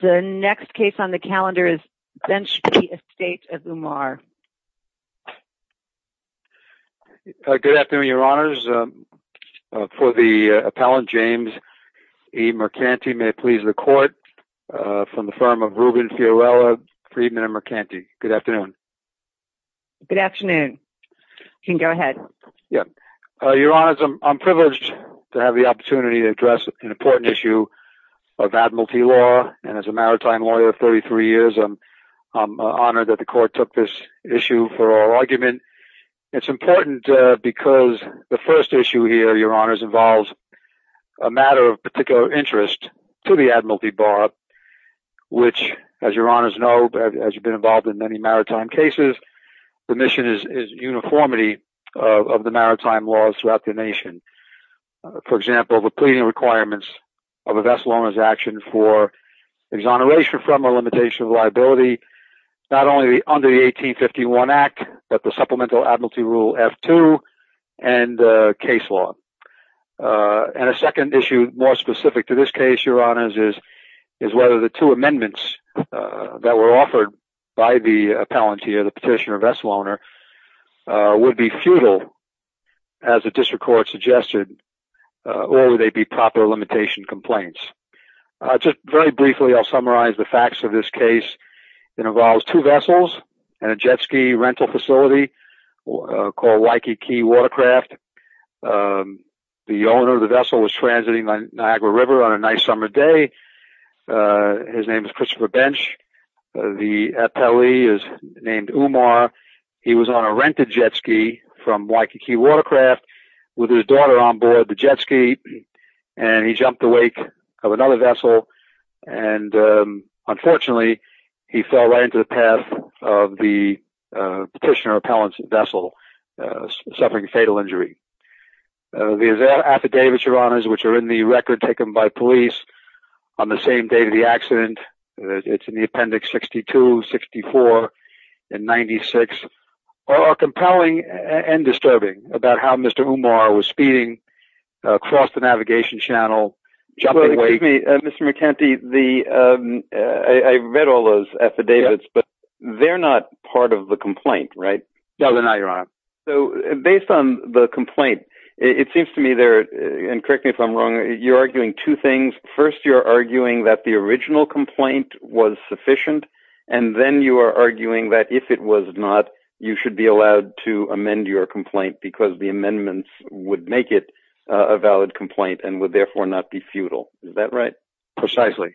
The next case on the calendar is Bensch v. Estate of Umar. Good afternoon, Your Honors. For the appellant, James E. Mercanti, may it please the court, from the firm of Ruben Fiorello, Friedman & Mercanti. Good afternoon. Good afternoon. You can go ahead. Your Honors, I'm privileged to have the opportunity to address an important issue of admiralty law. And as a maritime lawyer of 33 years, I'm honored that the court took this issue for our argument. It's important because the first issue here, Your Honors, involves a matter of particular interest to the Admiralty Bar, which, as Your Honors know, as you've been involved in many maritime cases, the mission is uniformity of the maritime laws throughout the nation. For example, the pleading requirements of a vessel owner's action for exoneration from or limitation of liability, not only under the 1851 Act, but the Supplemental Admiralty Rule F-2 and the case law. And a second issue, more specific to this case, Your Honors, is whether the two amendments that were offered by the appellant here, the petitioner or vessel owner, would be futile, as the district court suggested, or would they be proper limitation complaints. Just very briefly, I'll summarize the facts of this case. It involves two vessels and a jet ski rental facility called Waikiki Watercraft. The owner of the vessel was transiting the Niagara River on a nice summer day. His name is Christopher Bench. The appellee is named Umar. He was on a rented jet ski from Waikiki Watercraft with his daughter on board the jet ski, and he jumped the wake of another vessel, and unfortunately, he fell right into the path of the petitioner appellant's vessel, suffering a fatal injury. The affidavits, Your Honors, which are in the record taken by police on the same day of the accident, it's in the appendix 62, 64, and 96, are compelling and disturbing about how Mr. Umar was speeding across the navigation channel, jumping the wake. Excuse me, Mr. McEntee, I read all those affidavits, but they're not part of the complaint, right? No, they're not, Your Honor. Based on the complaint, it seems to me there, and correct me if I'm wrong, you're arguing two things. First, you're arguing that the original complaint was sufficient, and then you are arguing that if it was not, you should be allowed to amend your complaint because the amendments would make it a valid complaint and would therefore not be futile. Is that right? Precisely.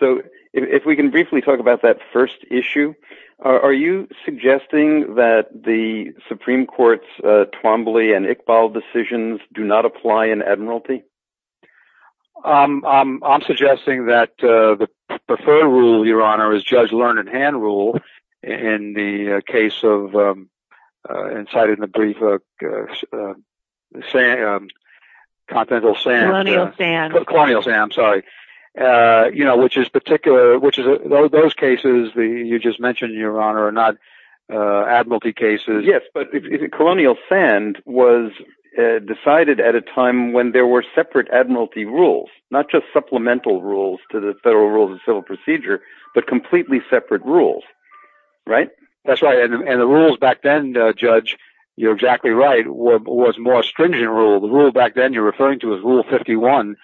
So, if we can briefly talk about that first issue. Are you suggesting that the Supreme Court's Twombly and Iqbal decisions do not apply in admiralty? I'm suggesting that the preferred rule, Your Honor, is Judge Learned Hand Rule, in the case of, and cited in the brief, Continental Sand. Colonial Sand. Colonial Sand, I'm sorry. Those cases you just mentioned, Your Honor, are not admiralty cases. Yes, but Colonial Sand was decided at a time when there were separate admiralty rules, not just supplemental rules to the Federal Rules of Civil Procedure, but completely separate rules, right? That's right, and the rules back then, Judge, you're exactly right, was more stringent rules. The rule back then you're referring to is Rule 51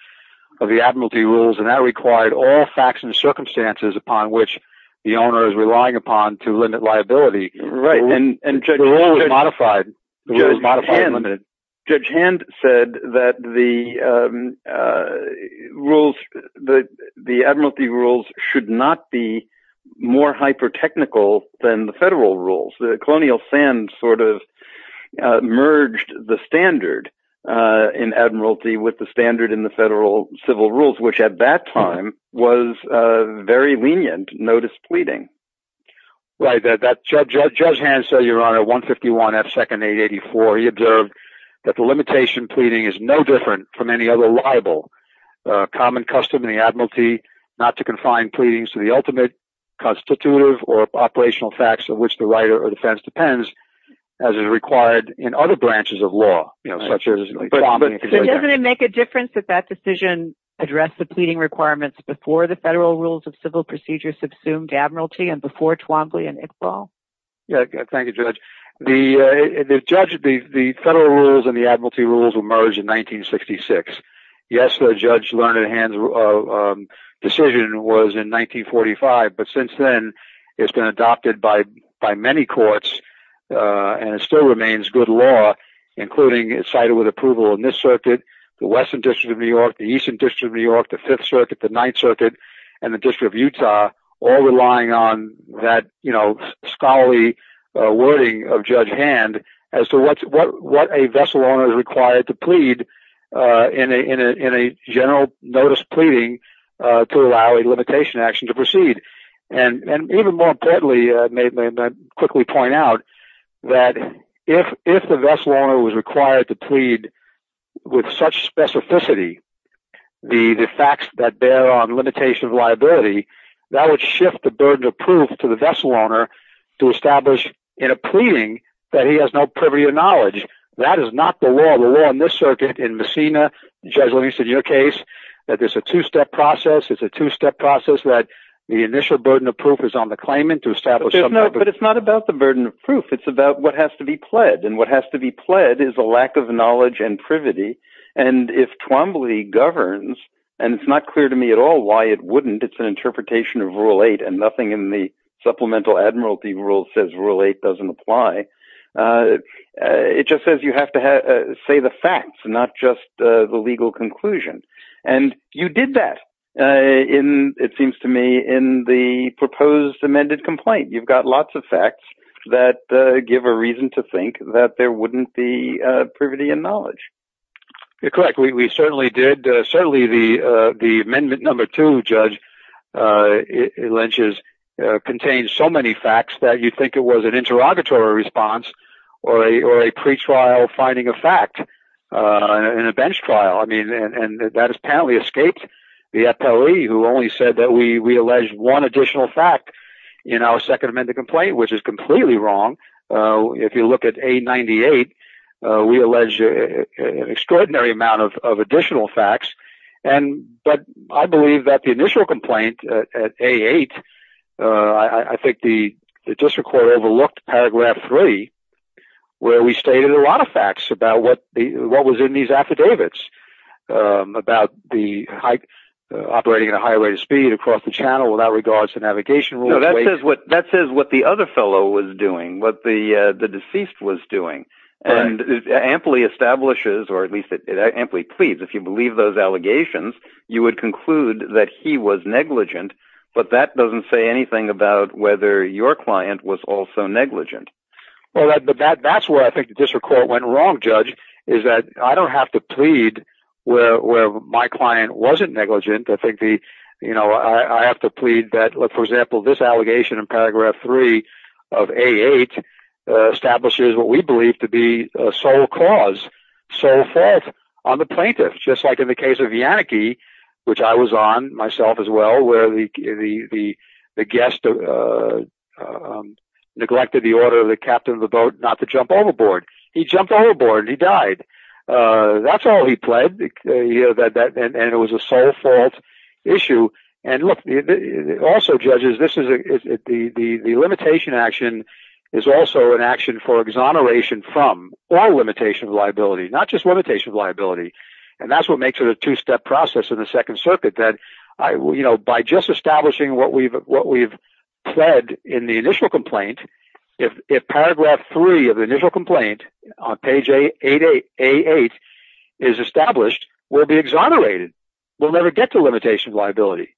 of the admiralty rules, and that required all facts and circumstances upon which the owner is relying upon to limit liability. Right, and Judge Hand said that the rules, the admiralty rules, should not be more hyper-technical than the Federal Rules. Colonial Sand sort of merged the standard in admiralty with the standard in the Federal Civil Rules, which at that time was very lenient notice pleading. Right, Judge Hand said, Your Honor, 151 F. 2nd. 884. He observed that the limitation pleading is no different from any other libel. Common custom in the admiralty not to confine pleadings to the ultimate constitutive or operational facts of which the right or defense depends, as is required in other branches of law, you know, such as… But doesn't it make a difference that that decision addressed the pleading requirements before the Federal Rules of Civil Procedure subsumed admiralty and before Twombly and Iqbal? Yeah, thank you, Judge. The Federal Rules and the admiralty rules emerged in 1966. Yes, Judge Learned Hand's decision was in 1945, but since then it's been adopted by many courts and it still remains good law, including it's cited with approval in this circuit, the Western District of New York, the Eastern District of New York, the Fifth Circuit, the Ninth Circuit, and the District of Utah, all relying on that, you know, scholarly wording of Judge Hand as to what a vessel owner is required to plead in a general notice pleading to allow a limitation action to proceed. And even more importantly, may I quickly point out, that if the vessel owner was required to plead with such specificity, the facts that bear on limitation of liability, that would shift the burden of proof to the vessel owner to establish in a pleading that he has no privity of knowledge. That is not the law. The law in this circuit, in Messina, Judge Learned, in your case, that there's a two-step process. It's a two-step process that the initial burden of proof is on the claimant to establish... But it's not about the burden of proof. It's about what has to be pledged. And what has to be pledged is a lack of knowledge and privity. And if Twombly governs, and it's not clear to me at all why it wouldn't, it's an interpretation of Rule 8 and nothing in the supplemental admiralty rules says Rule 8 doesn't apply. It just says you have to say the facts, not just the legal conclusion. And you did that, it seems to me, in the proposed amended complaint. You've got lots of facts that give a reason to think that there wouldn't be privity in knowledge. You're correct. We certainly did. Certainly the Amendment No. 2, Judge Lynch's, contains so many facts that you'd think it was an interrogatory response or a pretrial finding of fact in a bench trial. And that has apparently escaped the FOE, who only said that we allege one additional fact in our second amended complaint, which is completely wrong. If you look at A98, we allege an extraordinary amount of additional facts. But I believe that the initial complaint at A8, I think the district court overlooked Paragraph 3, where we stated a lot of facts about what was in these affidavits, about the operating at a high rate of speed across the channel without regard to navigation rules. No, that says what the other fellow was doing, what the deceased was doing. And it amply establishes, or at least it amply pleads, if you believe those allegations, you would conclude that he was negligent, but that doesn't say anything about whether your client was also negligent. Well, that's where I think the district court went wrong, Judge, is that I don't have to plead where my client wasn't negligent. I have to plead that, for example, this allegation in Paragraph 3 of A8 establishes what we believe to be a sole cause, sole fault on the plaintiff. Just like in the case of Vianneke, which I was on, myself as well, the guest neglected the order of the captain of the boat not to jump overboard. He jumped overboard and he died. That's all he pled, and it was a sole fault issue. And look, also, Judges, the limitation action is also an action for exoneration from all limitation of liability, not just limitation of liability. And that's what makes it a two-step process in the Second Circuit, that by just establishing what we've pled in the initial complaint, if Paragraph 3 of the initial complaint on page A8 is established, we'll be exonerated. We'll never get to limitation of liability.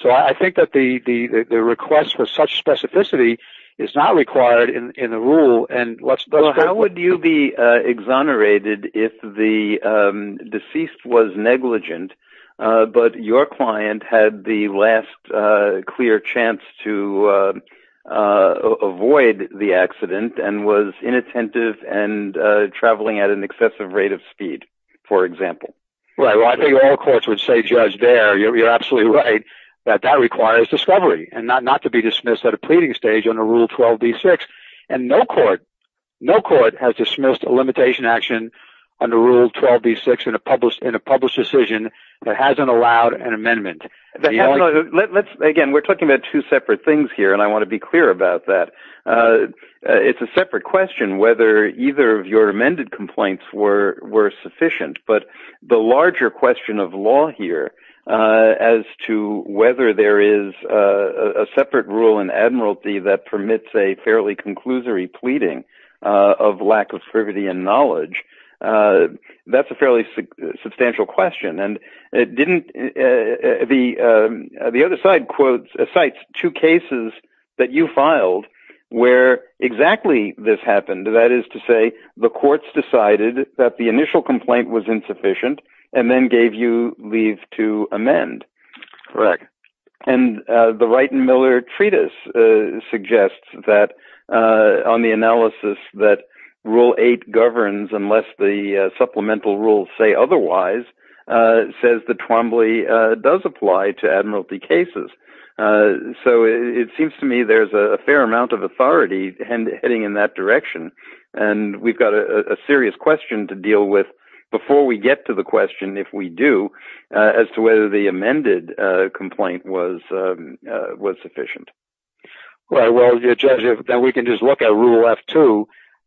So I think that the request for such specificity is not required in the rule. How would you be exonerated if the deceased was negligent, but your client had the last clear chance to avoid the accident and was inattentive and traveling at an excessive rate of speed, for example? Well, I think all courts would say, Judge, there, you're absolutely right, that that requires discovery and not to be dismissed at a pleading stage under Rule 12b-6. And no court has dismissed a limitation action under Rule 12b-6 in a published decision that hasn't allowed an amendment. Again, we're talking about two separate things here, and I want to be clear about that. It's a separate question whether either of your amended complaints were sufficient, but the larger question of law here, as to whether there is a separate rule in Admiralty that permits a fairly conclusory pleading of lack of servity and knowledge, that's a fairly substantial question. And the other side quotes, cites two cases that you filed where exactly this happened, that is to say, the courts decided that the initial complaint was insufficient and then gave you leave to amend. Correct. And the Wright and Miller Treatise suggests that on the analysis that Rule 8 governs unless the supplemental rules say otherwise, says the Twombly does apply to Admiralty cases. So it seems to me there's a fair amount of authority heading in that direction, and we've got a serious question to deal with before we get to the question, if we do, as to whether the amended complaint was sufficient. Well, Judge, then we can just look at Rule F2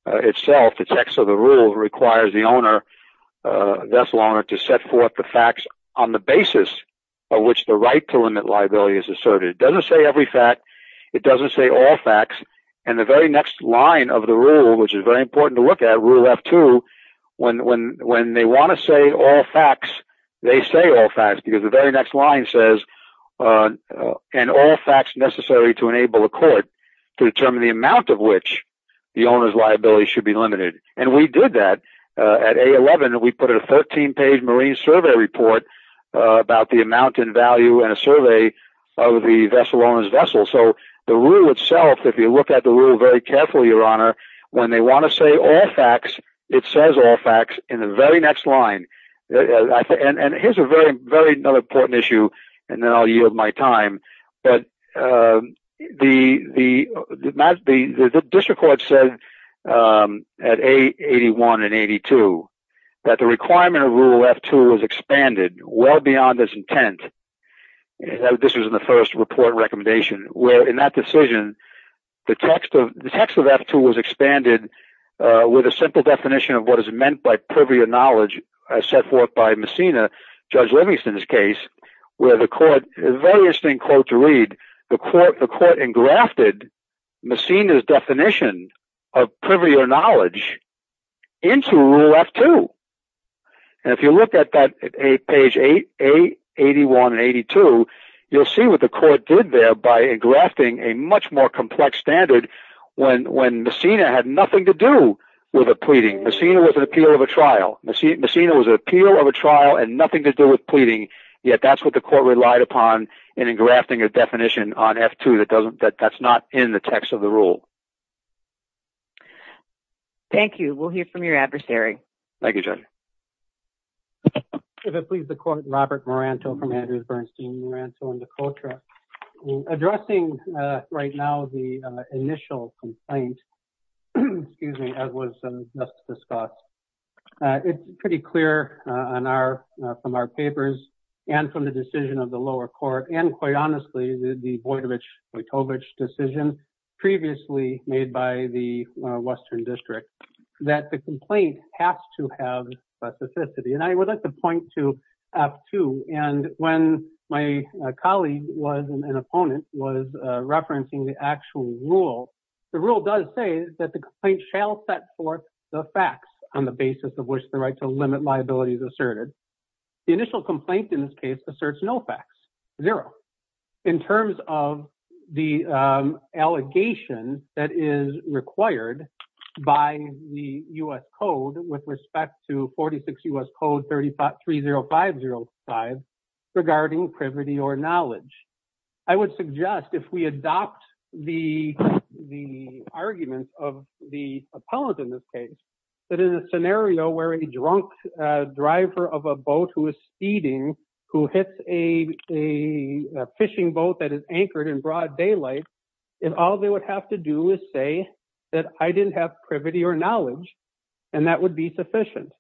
itself. The text of the rule requires the owner, to set forth the facts on the basis of which the right to limit liability is asserted. It doesn't say every fact. It doesn't say all facts. And the very next line of the rule, which is very important to look at, Rule F2, when they want to say all facts, they say all facts. Because the very next line says, and all facts necessary to enable a court to determine the amount of which the owner's liability should be limited. And we did that at A11. We put in a 13-page marine survey report about the amount in value and a survey of the owner's vessel. So the rule itself, if you look at the rule very carefully, Your Honor, when they want to say all facts, it says all facts in the very next line. And here's another very important issue, and then I'll yield my time. The district court said at A81 and 82 that the requirement of Rule F2 was expanded well beyond its intent. This was in the first report recommendation, where in that decision, the text of F2 was expanded with a simple definition of what is meant by privy of knowledge set forth by Messina, Judge Livingston's case, where the court, a very interesting quote to read, the court engrafted Messina's definition of privy of knowledge into Rule F2. And if you look at that page A81 and 82, you'll see what the court did there by engrafting a much more complex standard when Messina had nothing to do with the pleading. Messina was an appeal of a trial. Messina was an appeal of a trial and nothing to do with pleading, yet that's what the court relied upon in engrafting a definition on F2 that's not in the text of the rule. Thank you. We'll hear from your adversary. Thank you, Judge. If it pleases the court, Robert Moranto from Andrews, Bernstein, Moranto, and Decotra. Addressing right now the initial complaint, as was just discussed, it's pretty clear from our papers and from the decision of the lower court and quite honestly, the Vojtovich decision previously made by the Western District that the complaint has to have specificity. And I would like to point to F2. And when my colleague was, an opponent, was referencing the actual rule, the rule does say that the complaint shall set forth the facts on the basis of which the right to limit liability is asserted. The initial complaint in this case asserts no facts, zero. In terms of the allegation that is required by the U.S. Code with respect to 46 U.S. Code 30505 regarding privity or knowledge, I would suggest if we adopt the arguments of the appellant in this case, that in a scenario where a drunk driver of a boat who is speeding, who hits a fishing boat that is anchored in broad daylight, if all they would have to do is say that I didn't have privity or knowledge and that would be sufficient.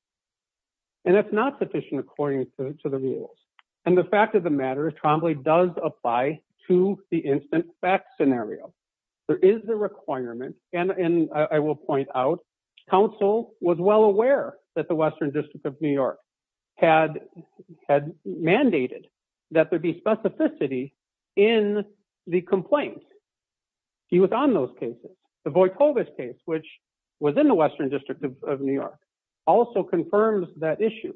And that's not sufficient according to the rules. And the fact of the matter is Trombley does apply to the instant facts scenario. There is a requirement, and I will point out, counsel was well aware that the Western District of New York had mandated that there be specificity in the complaint. He was on those cases. The Vojtovich case, which was in the Western District of New York, also confirms that issue.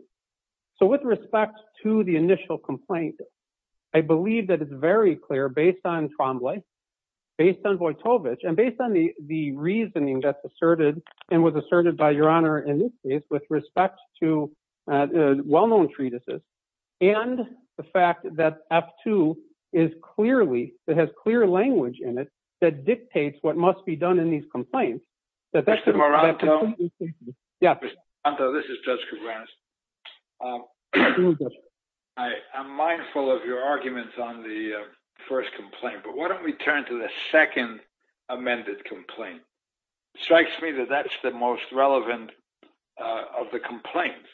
So with respect to the initial complaint, I believe that it's very clear based on Trombley, based on Vojtovich, and based on the reasoning that's asserted and was asserted by Your Honor in this case with respect to well-known treatises and the fact that F-2 is clearly, it has clear language in it that dictates what must be done in these complaints. Mr. Moranto. Yeah. Mr. Moranto, this is Judge Kovanec. I'm mindful of your arguments on the first complaint, but why don't we turn to the second amended complaint? It strikes me that that's the most relevant of the complaints.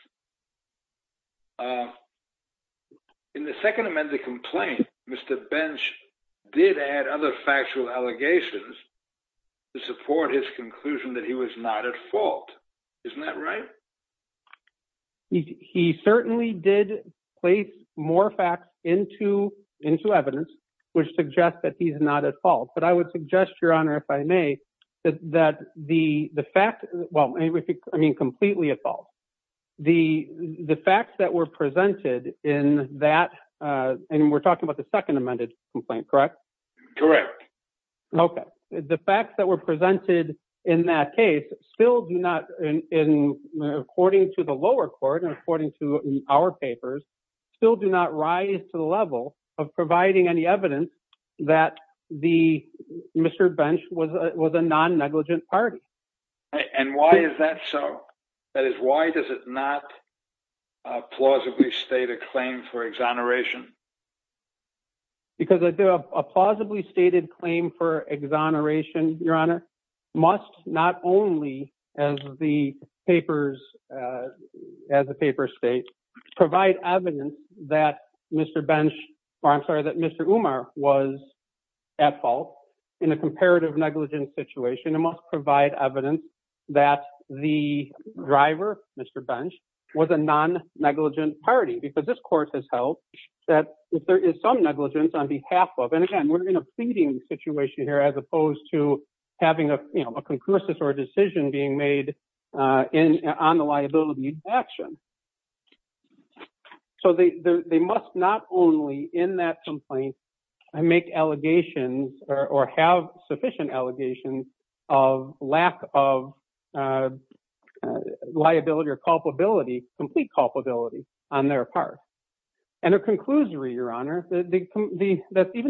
In the second amended complaint, Mr. Bench did add other factual allegations to support his conclusion that he was not at fault. Isn't that right? He certainly did place more facts into evidence, which suggests that he's not at fault. But I would suggest, Your Honor, if I may, that the fact, well, I mean, completely at fault. The facts that were presented in that, and we're talking about the second amended complaint, correct? Correct. Okay. The facts that were presented in that case still do not, according to the lower court, and according to our papers, still do not rise to the level of providing any evidence that Mr. Bench was a non-negligent party. And why is that so? That is, why does it not plausibly state a claim for exoneration? Because a plausibly stated claim for exoneration, Your Honor, must not only, as the papers state, provide evidence that Mr. Bench, or I'm sorry, that Mr. Umar was at fault in a comparative negligence situation, it must provide evidence that the driver, Mr. Bench, was a non-negligent party. Because this court has held that if there is some negligence on behalf of, and again, we're in a feeding situation here as opposed to having a concursus or a decision being made on the liability action. So they must not only, in that complaint, make allegations or have sufficient allegations of lack of liability or culpability, complete culpability on their part. And a conclusory, Your Honor, even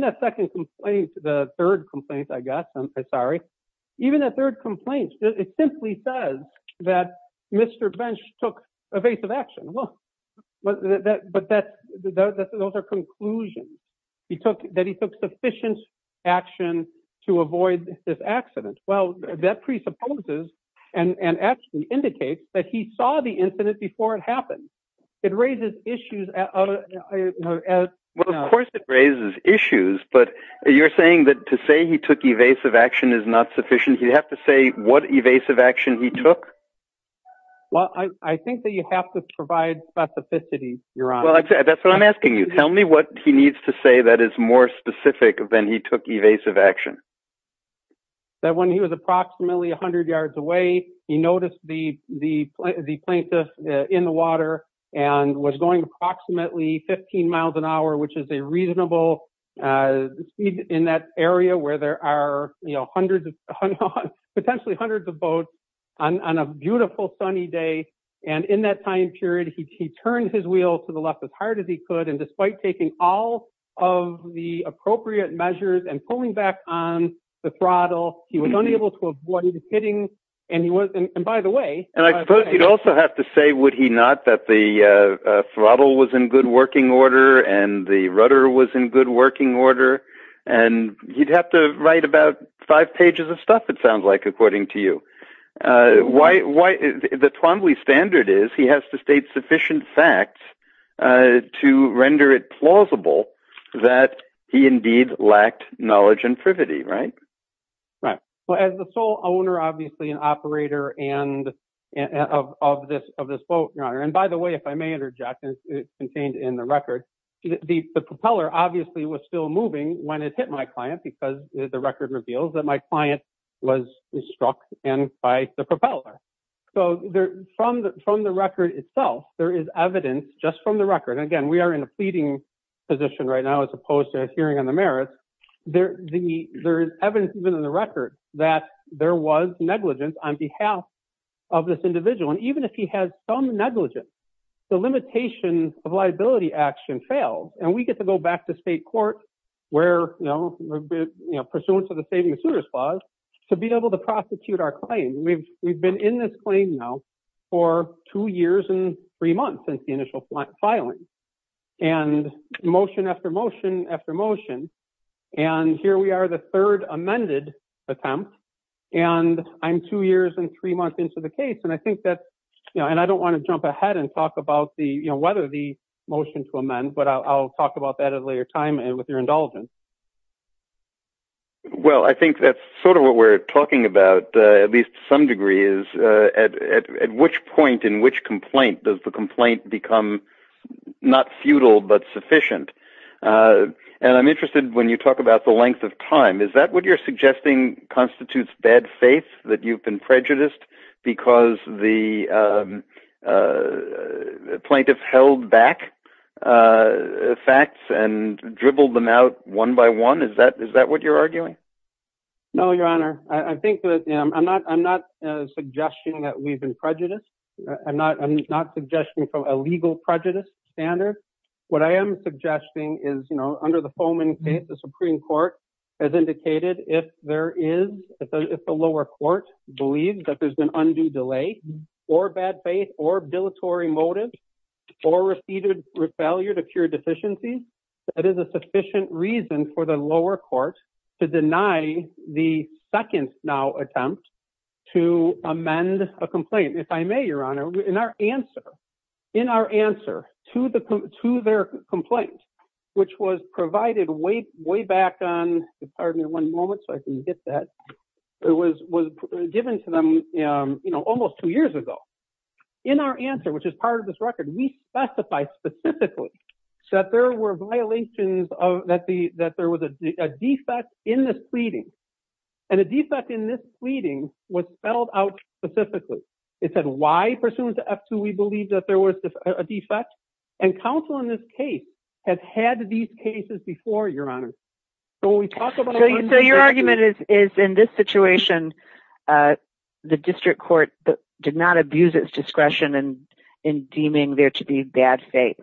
that second complaint, the third complaint I got, I'm sorry, even the third complaint, it simply says that Mr. Bench took evasive action. Well, but that's, those are conclusions. He took, that he took sufficient action to avoid this accident. Well, that presupposes and actually indicates that he saw the incident before it happened. It raises issues. Well, of course it raises issues, but you're saying that to say he took evasive action is not sufficient. You have to say what evasive action he took. Well, I think that you have to provide specificity, Your Honor. Well, that's what I'm asking you. Tell me what he needs to say that is more specific than he took evasive action. That when he was approximately 100 yards away, he noticed the plaintiff in the water and was going approximately 15 miles an hour, which is a reasonable speed in that area where there are hundreds of, potentially hundreds of boats on a beautiful sunny day. And in that time period, he turned his wheel to the left as hard as he could. And despite taking all of the appropriate measures and pulling back on the throttle, he was unable to avoid hitting. And he was, and by the way. And I suppose you'd also have to say, would he not that the throttle was in good working order and the rudder was in good working order? And you'd have to write about five pages of stuff, it sounds like, according to you. Why, the Twombly standard is he has to state sufficient facts to render it plausible that he indeed lacked knowledge and privity, right? Well, as the sole owner, obviously, and operator of this boat, Your Honor. And by the way, if I may interject, and it's contained in the record, the propeller obviously was still moving when it hit my client because the record reveals that my client was struck and by the propeller. So from the record itself, there is evidence just from the record. And again, we are in a pleading position right now as opposed to a hearing on the merits. There is evidence even in the record that there was negligence on behalf of this individual. And even if he has some negligence, the limitation of liability action fails. And we get to go back to state court where, you know, pursuant to the Saving the Suitors Clause to be able to prosecute our claim. We've been in this claim now for two years and three months since the initial filing. And motion after motion after motion. And here we are the third amended attempt. And I'm two years and three months into the case. And I think that, you know, and I don't want to jump ahead and talk about the, you know, whether the motion to amend, but I'll talk about that at a later time and with your indulgence. Well, I think that's sort of what we're talking about, at least to some degree, is at which point in which complaint does the complaint become not futile but sufficient. And I'm interested when you talk about the length of time. Does this thing constitutes bad faith that you've been prejudiced because the plaintiff held back facts and dribbled them out one by one? Is that what you're arguing? No, Your Honor. I think that I'm not suggesting that we've been prejudiced. I'm not suggesting from a legal prejudice standard. What I am suggesting is, you know, under the Foman case, the Supreme Court has indicated that if there is, if the lower court believes that there's been undue delay or bad faith or billatory motive or repeated failure to cure deficiencies, that is a sufficient reason for the lower court to deny the second now attempt to amend a complaint. If I may, Your Honor, in our answer, in our answer to their complaint, which was provided way back on, that was given to them, you know, almost two years ago. In our answer, which is part of this record, we specify specifically that there were violations of, that there was a defect in this pleading. And a defect in this pleading was spelled out specifically. It said, why pursuant to F-2, we believe that there was a defect and counsel in this case had had these cases before, Your Honor. So when we talk about... So your argument is in this situation, the district court did not abuse its discretion in deeming there to be bad faith.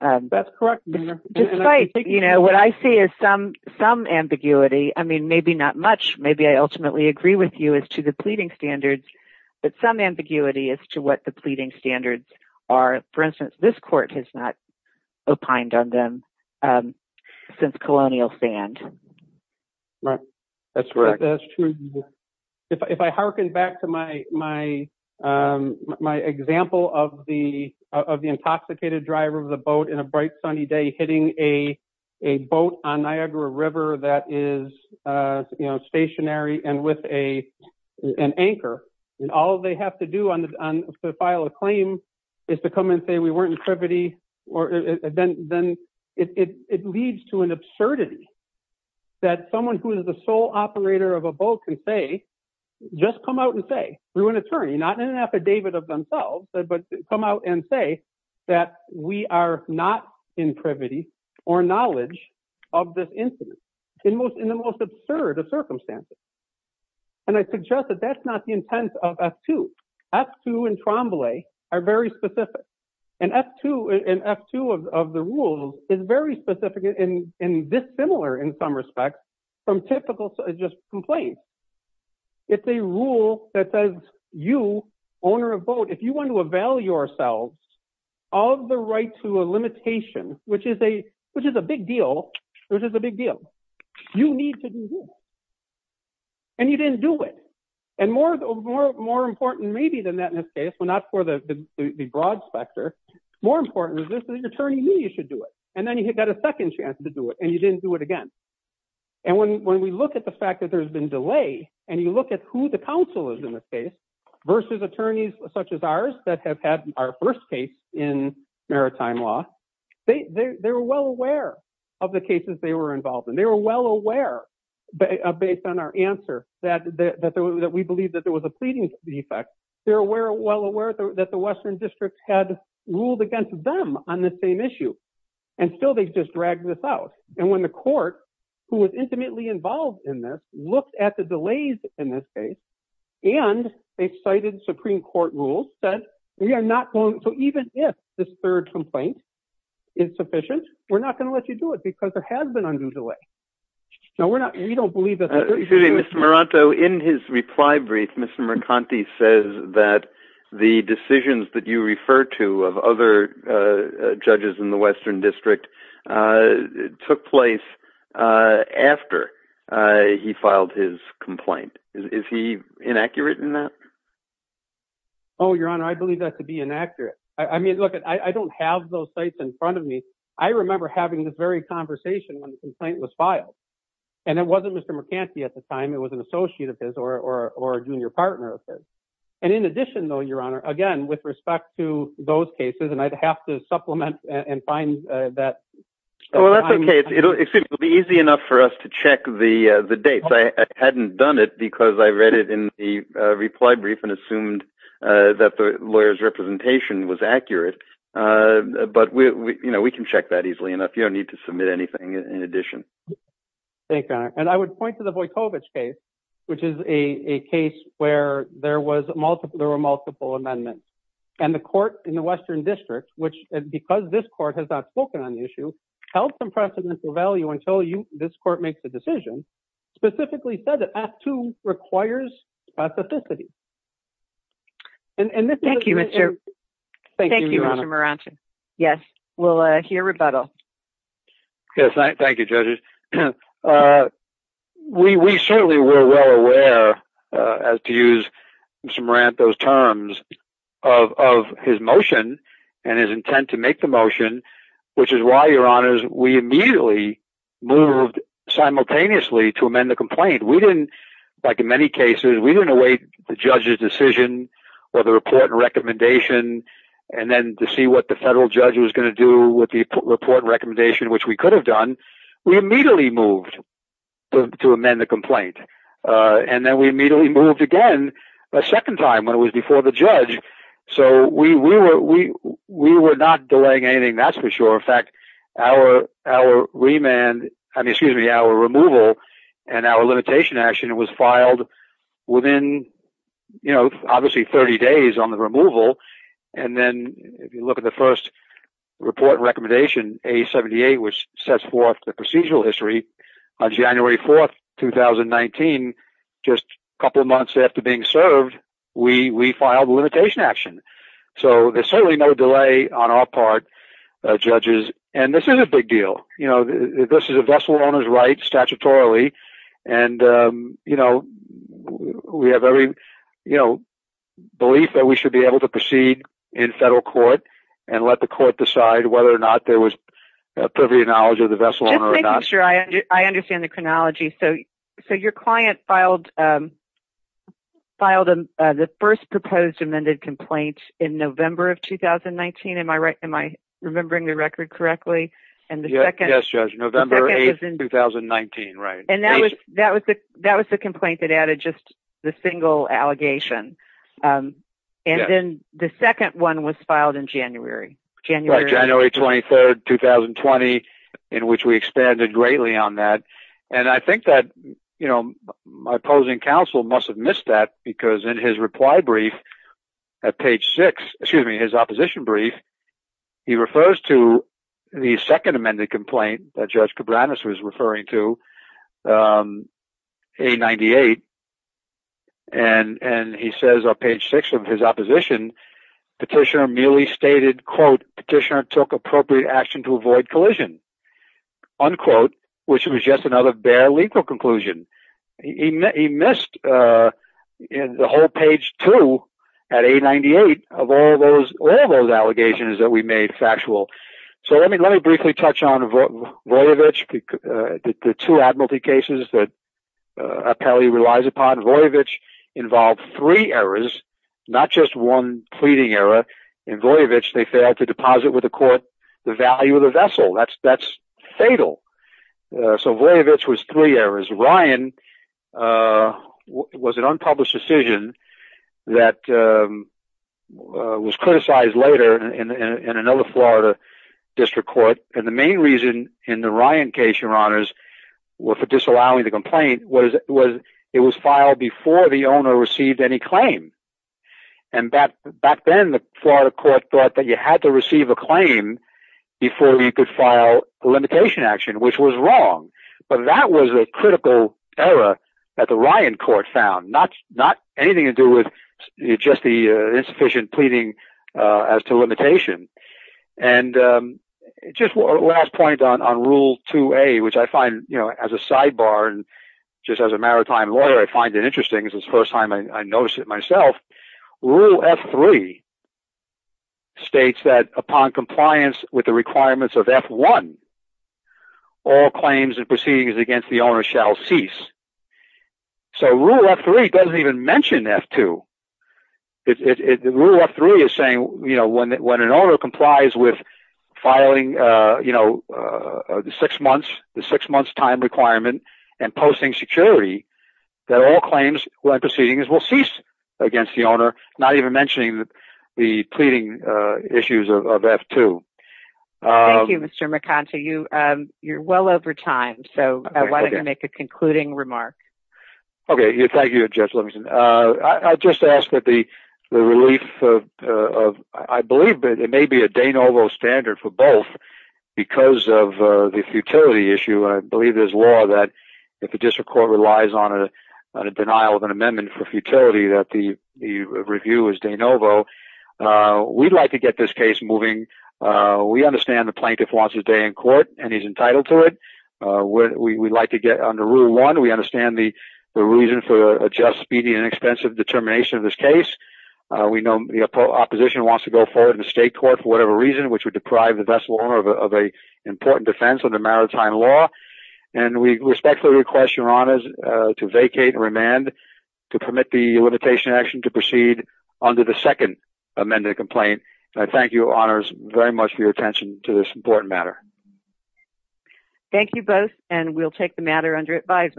That's correct, Your Honor. Despite, you know, what I see is some ambiguity. I mean, maybe not much. Maybe I ultimately agree with you as to the pleading standards, but some ambiguity as to what the pleading standards are. For instance, this court has not opined on them since colonial stand. Right. That's true. If I hearken back to my, my example of the, of the intoxicated driver of the boat in a bright sunny day, hitting a boat on Niagara River that is stationary and with a, an anchor. And all they have to do to file a claim is to come and say we weren't in privity. Or then, it leads to an absurdity that someone who is the sole operator of a boat can say, just come out and say, we're an attorney, not in an affidavit of themselves, but come out and say that we are not in privity or knowledge of this incident in the most absurd of circumstances. And I suggest that that's not the intent of F-2. F-2 and Tremblay are very specific. And F-2, and F-2 of the rules is very specific and dissimilar in some respects from typical, just complaints. It's a rule that says you, owner of boat, if you want to avail yourselves of the right to a limitation, which is a, which is a big deal, which is a big deal, you need to do this. And you didn't do it. And more, more, more important, maybe than that in this case, but not for the, the broad specter, more important is this, the attorney knew you should do it. And then you got a second chance to do it and you didn't do it again. And when, when we look at the fact that there's been delay and you look at who the counsel is in this case versus attorneys such as ours that have had our first case in maritime law, they, they were well aware of the cases they were involved in. They were well aware based on our answer that we believe that there was a pleading defect. They're aware, well aware that the Western districts had ruled against them on the same issue. And still, they just dragged this out. And when the court who was intimately involved in this looked at the delays in this case and they cited Supreme court rules that we are not going. So even if this third complaint is sufficient, we're not going to let you do it because there has been undue delay. So we're not, we don't believe that. Excuse me, Mr. Maranto in his reply brief, Mr. Mercanti says that the decisions that you refer to of other judges in the Western district took place after he filed his complaint. Is he inaccurate in that? Oh, your honor. I believe that to be inaccurate. I mean, look, I don't have those sites in front of me. I remember having this very conversation when the complaint was filed and it wasn't Mr. Mercanti at the time. It was an associate of his or a junior partner of his. And in addition though, your honor, again, with respect to those cases and I'd have to supplement and find that. Oh, that's okay. It'll be easy enough for us to check the dates. I hadn't done it because I read it in the reply brief and assumed that the lawyer's representation was accurate. But we, you know, we can check that easily enough. You don't need to submit anything in addition. Thank you, your honor. And I would point to the Vojkovic case, which is a case where there was multiple, there were multiple amendments and the court in the Western District, which because this court has not spoken on the issue, held some precedence or value until you, this court makes a decision specifically said that act two requires specificity. And thank you, Mr. Thank you, Mr. Meranti. Yes, we'll hear rebuttal. Yes, thank you, judges. Uh, we, we certainly were well aware as to use Mr. Meranti, those terms of, of his motion and his intent to make the motion, which is why your honors, we immediately moved simultaneously to amend the complaint. We didn't, like in many cases, we didn't await the judge's decision or the report and recommendation and then to see what the federal judge was going to do with the report recommendation, which we could have done. We immediately moved to amend the complaint. Uh, and then we immediately moved again a second time when it was before the judge. So we, we were, we, we were not delaying anything. That's for sure. In fact, our, our remand, I mean, excuse me, our removal and our limitation action was filed within, you know, obviously 30 days on the removal. And then if you look at the first report recommendation, a 78, which sets forth the procedural history on January 4th, 2019, just a couple of months after being served, we, we filed a limitation action. So there's certainly no delay on our part, judges. And this is a big deal. You know, this is a vessel on his right statutorily. And, um, you know, we have every, you know, belief that we should be able to proceed in federal court and let the court decide whether or not there was a privy knowledge of the vessel or not. Sure. I understand the chronology. So, so your client filed, um, filed, uh, the first proposed amended complaint in November of 2019. Am I right? Am I remembering the record correctly? And the second November 8th, 2019. Right. And that was, that was the, that was the complaint that added just the single allegation. Um, and then the second one was filed in January, January, January 23rd, 2020, in which we expanded greatly on that. And I think that, you know, my opposing counsel must have missed that because in his reply brief at page six, excuse me, his opposition brief, he refers to the second amended complaint that judge Cabranes was referring to, um, a 98. And, and he says on page six of his opposition, petitioner merely stated, quote, petitioner took appropriate action to avoid collision unquote, which was just another bare legal conclusion. He, he missed, uh, in the whole page two at a 98 of all those, all those allegations that we made factual. So let me, let me briefly touch on Voyevich, uh, the, the two admiralty cases that, uh, apparently relies upon Voyevich involved three errors, not just one pleading error in Voyevich. They failed to deposit with the court the value of the vessel that's, that's fatal. Uh, so Voyevich was three errors. Ryan, uh, was an unpublished decision that, um, uh, was criticized later in, in, in another Florida district court. And the main reason in the Ryan case your honors were for disallowing the complaint was, was it was filed before the owner received any claim and that back then the Florida court thought that you had to receive a claim before you could file a limitation action, which was wrong. But that was a critical error that the Ryan court found not, not anything to do with just the, uh, as to limitation. And, um, just one last point on, on rule 2A, which I find, you know, as a sidebar and just as a maritime lawyer, I find it interesting as it's the first time I noticed it myself. Rule F3 upon compliance with the requirements of F1, all claims and proceedings against the owner shall cease. So rule F3 doesn't even mention F2. It, it, it, rule F3 is saying, you know, when, when an owner complies with filing, uh, you know, uh, six months, the six months time requirement and posting security, that all claims and proceedings will cease against the owner, not even mentioning the, the pleading, uh, issues of, of F2. Um. Thank you, Mr. McConty. You, um, you're well over time. So, why don't you make a concluding remark? Okay. Thank you, Judge Livingston. I, I just asked that the, the relief of, uh, of, I believe that it may be a de novo standard for both because of, uh, the futility issue. I believe there's law that if the district court relies on a, on a denial of an amendment for futility, that the, the review is de novo. Uh, we'd like to get this case moving. Uh, we understand the plaintiff wants his day in court and he's entitled to it. Uh, we, we'd like to get under rule one. We understand the, the reason for a just, speedy, inexpensive determination of this case. Uh, we know the opposition wants to go forward in the state court for whatever reason, which would deprive the vessel owner of a, of a important defense under maritime law. And we respectfully request your honors, uh, to vacate and remand to permit the limitation action to proceed onto the second amended complaint. And I thank you, honors, very much for your attention to this important matter. Thank you both. And we'll take the matter under advisement.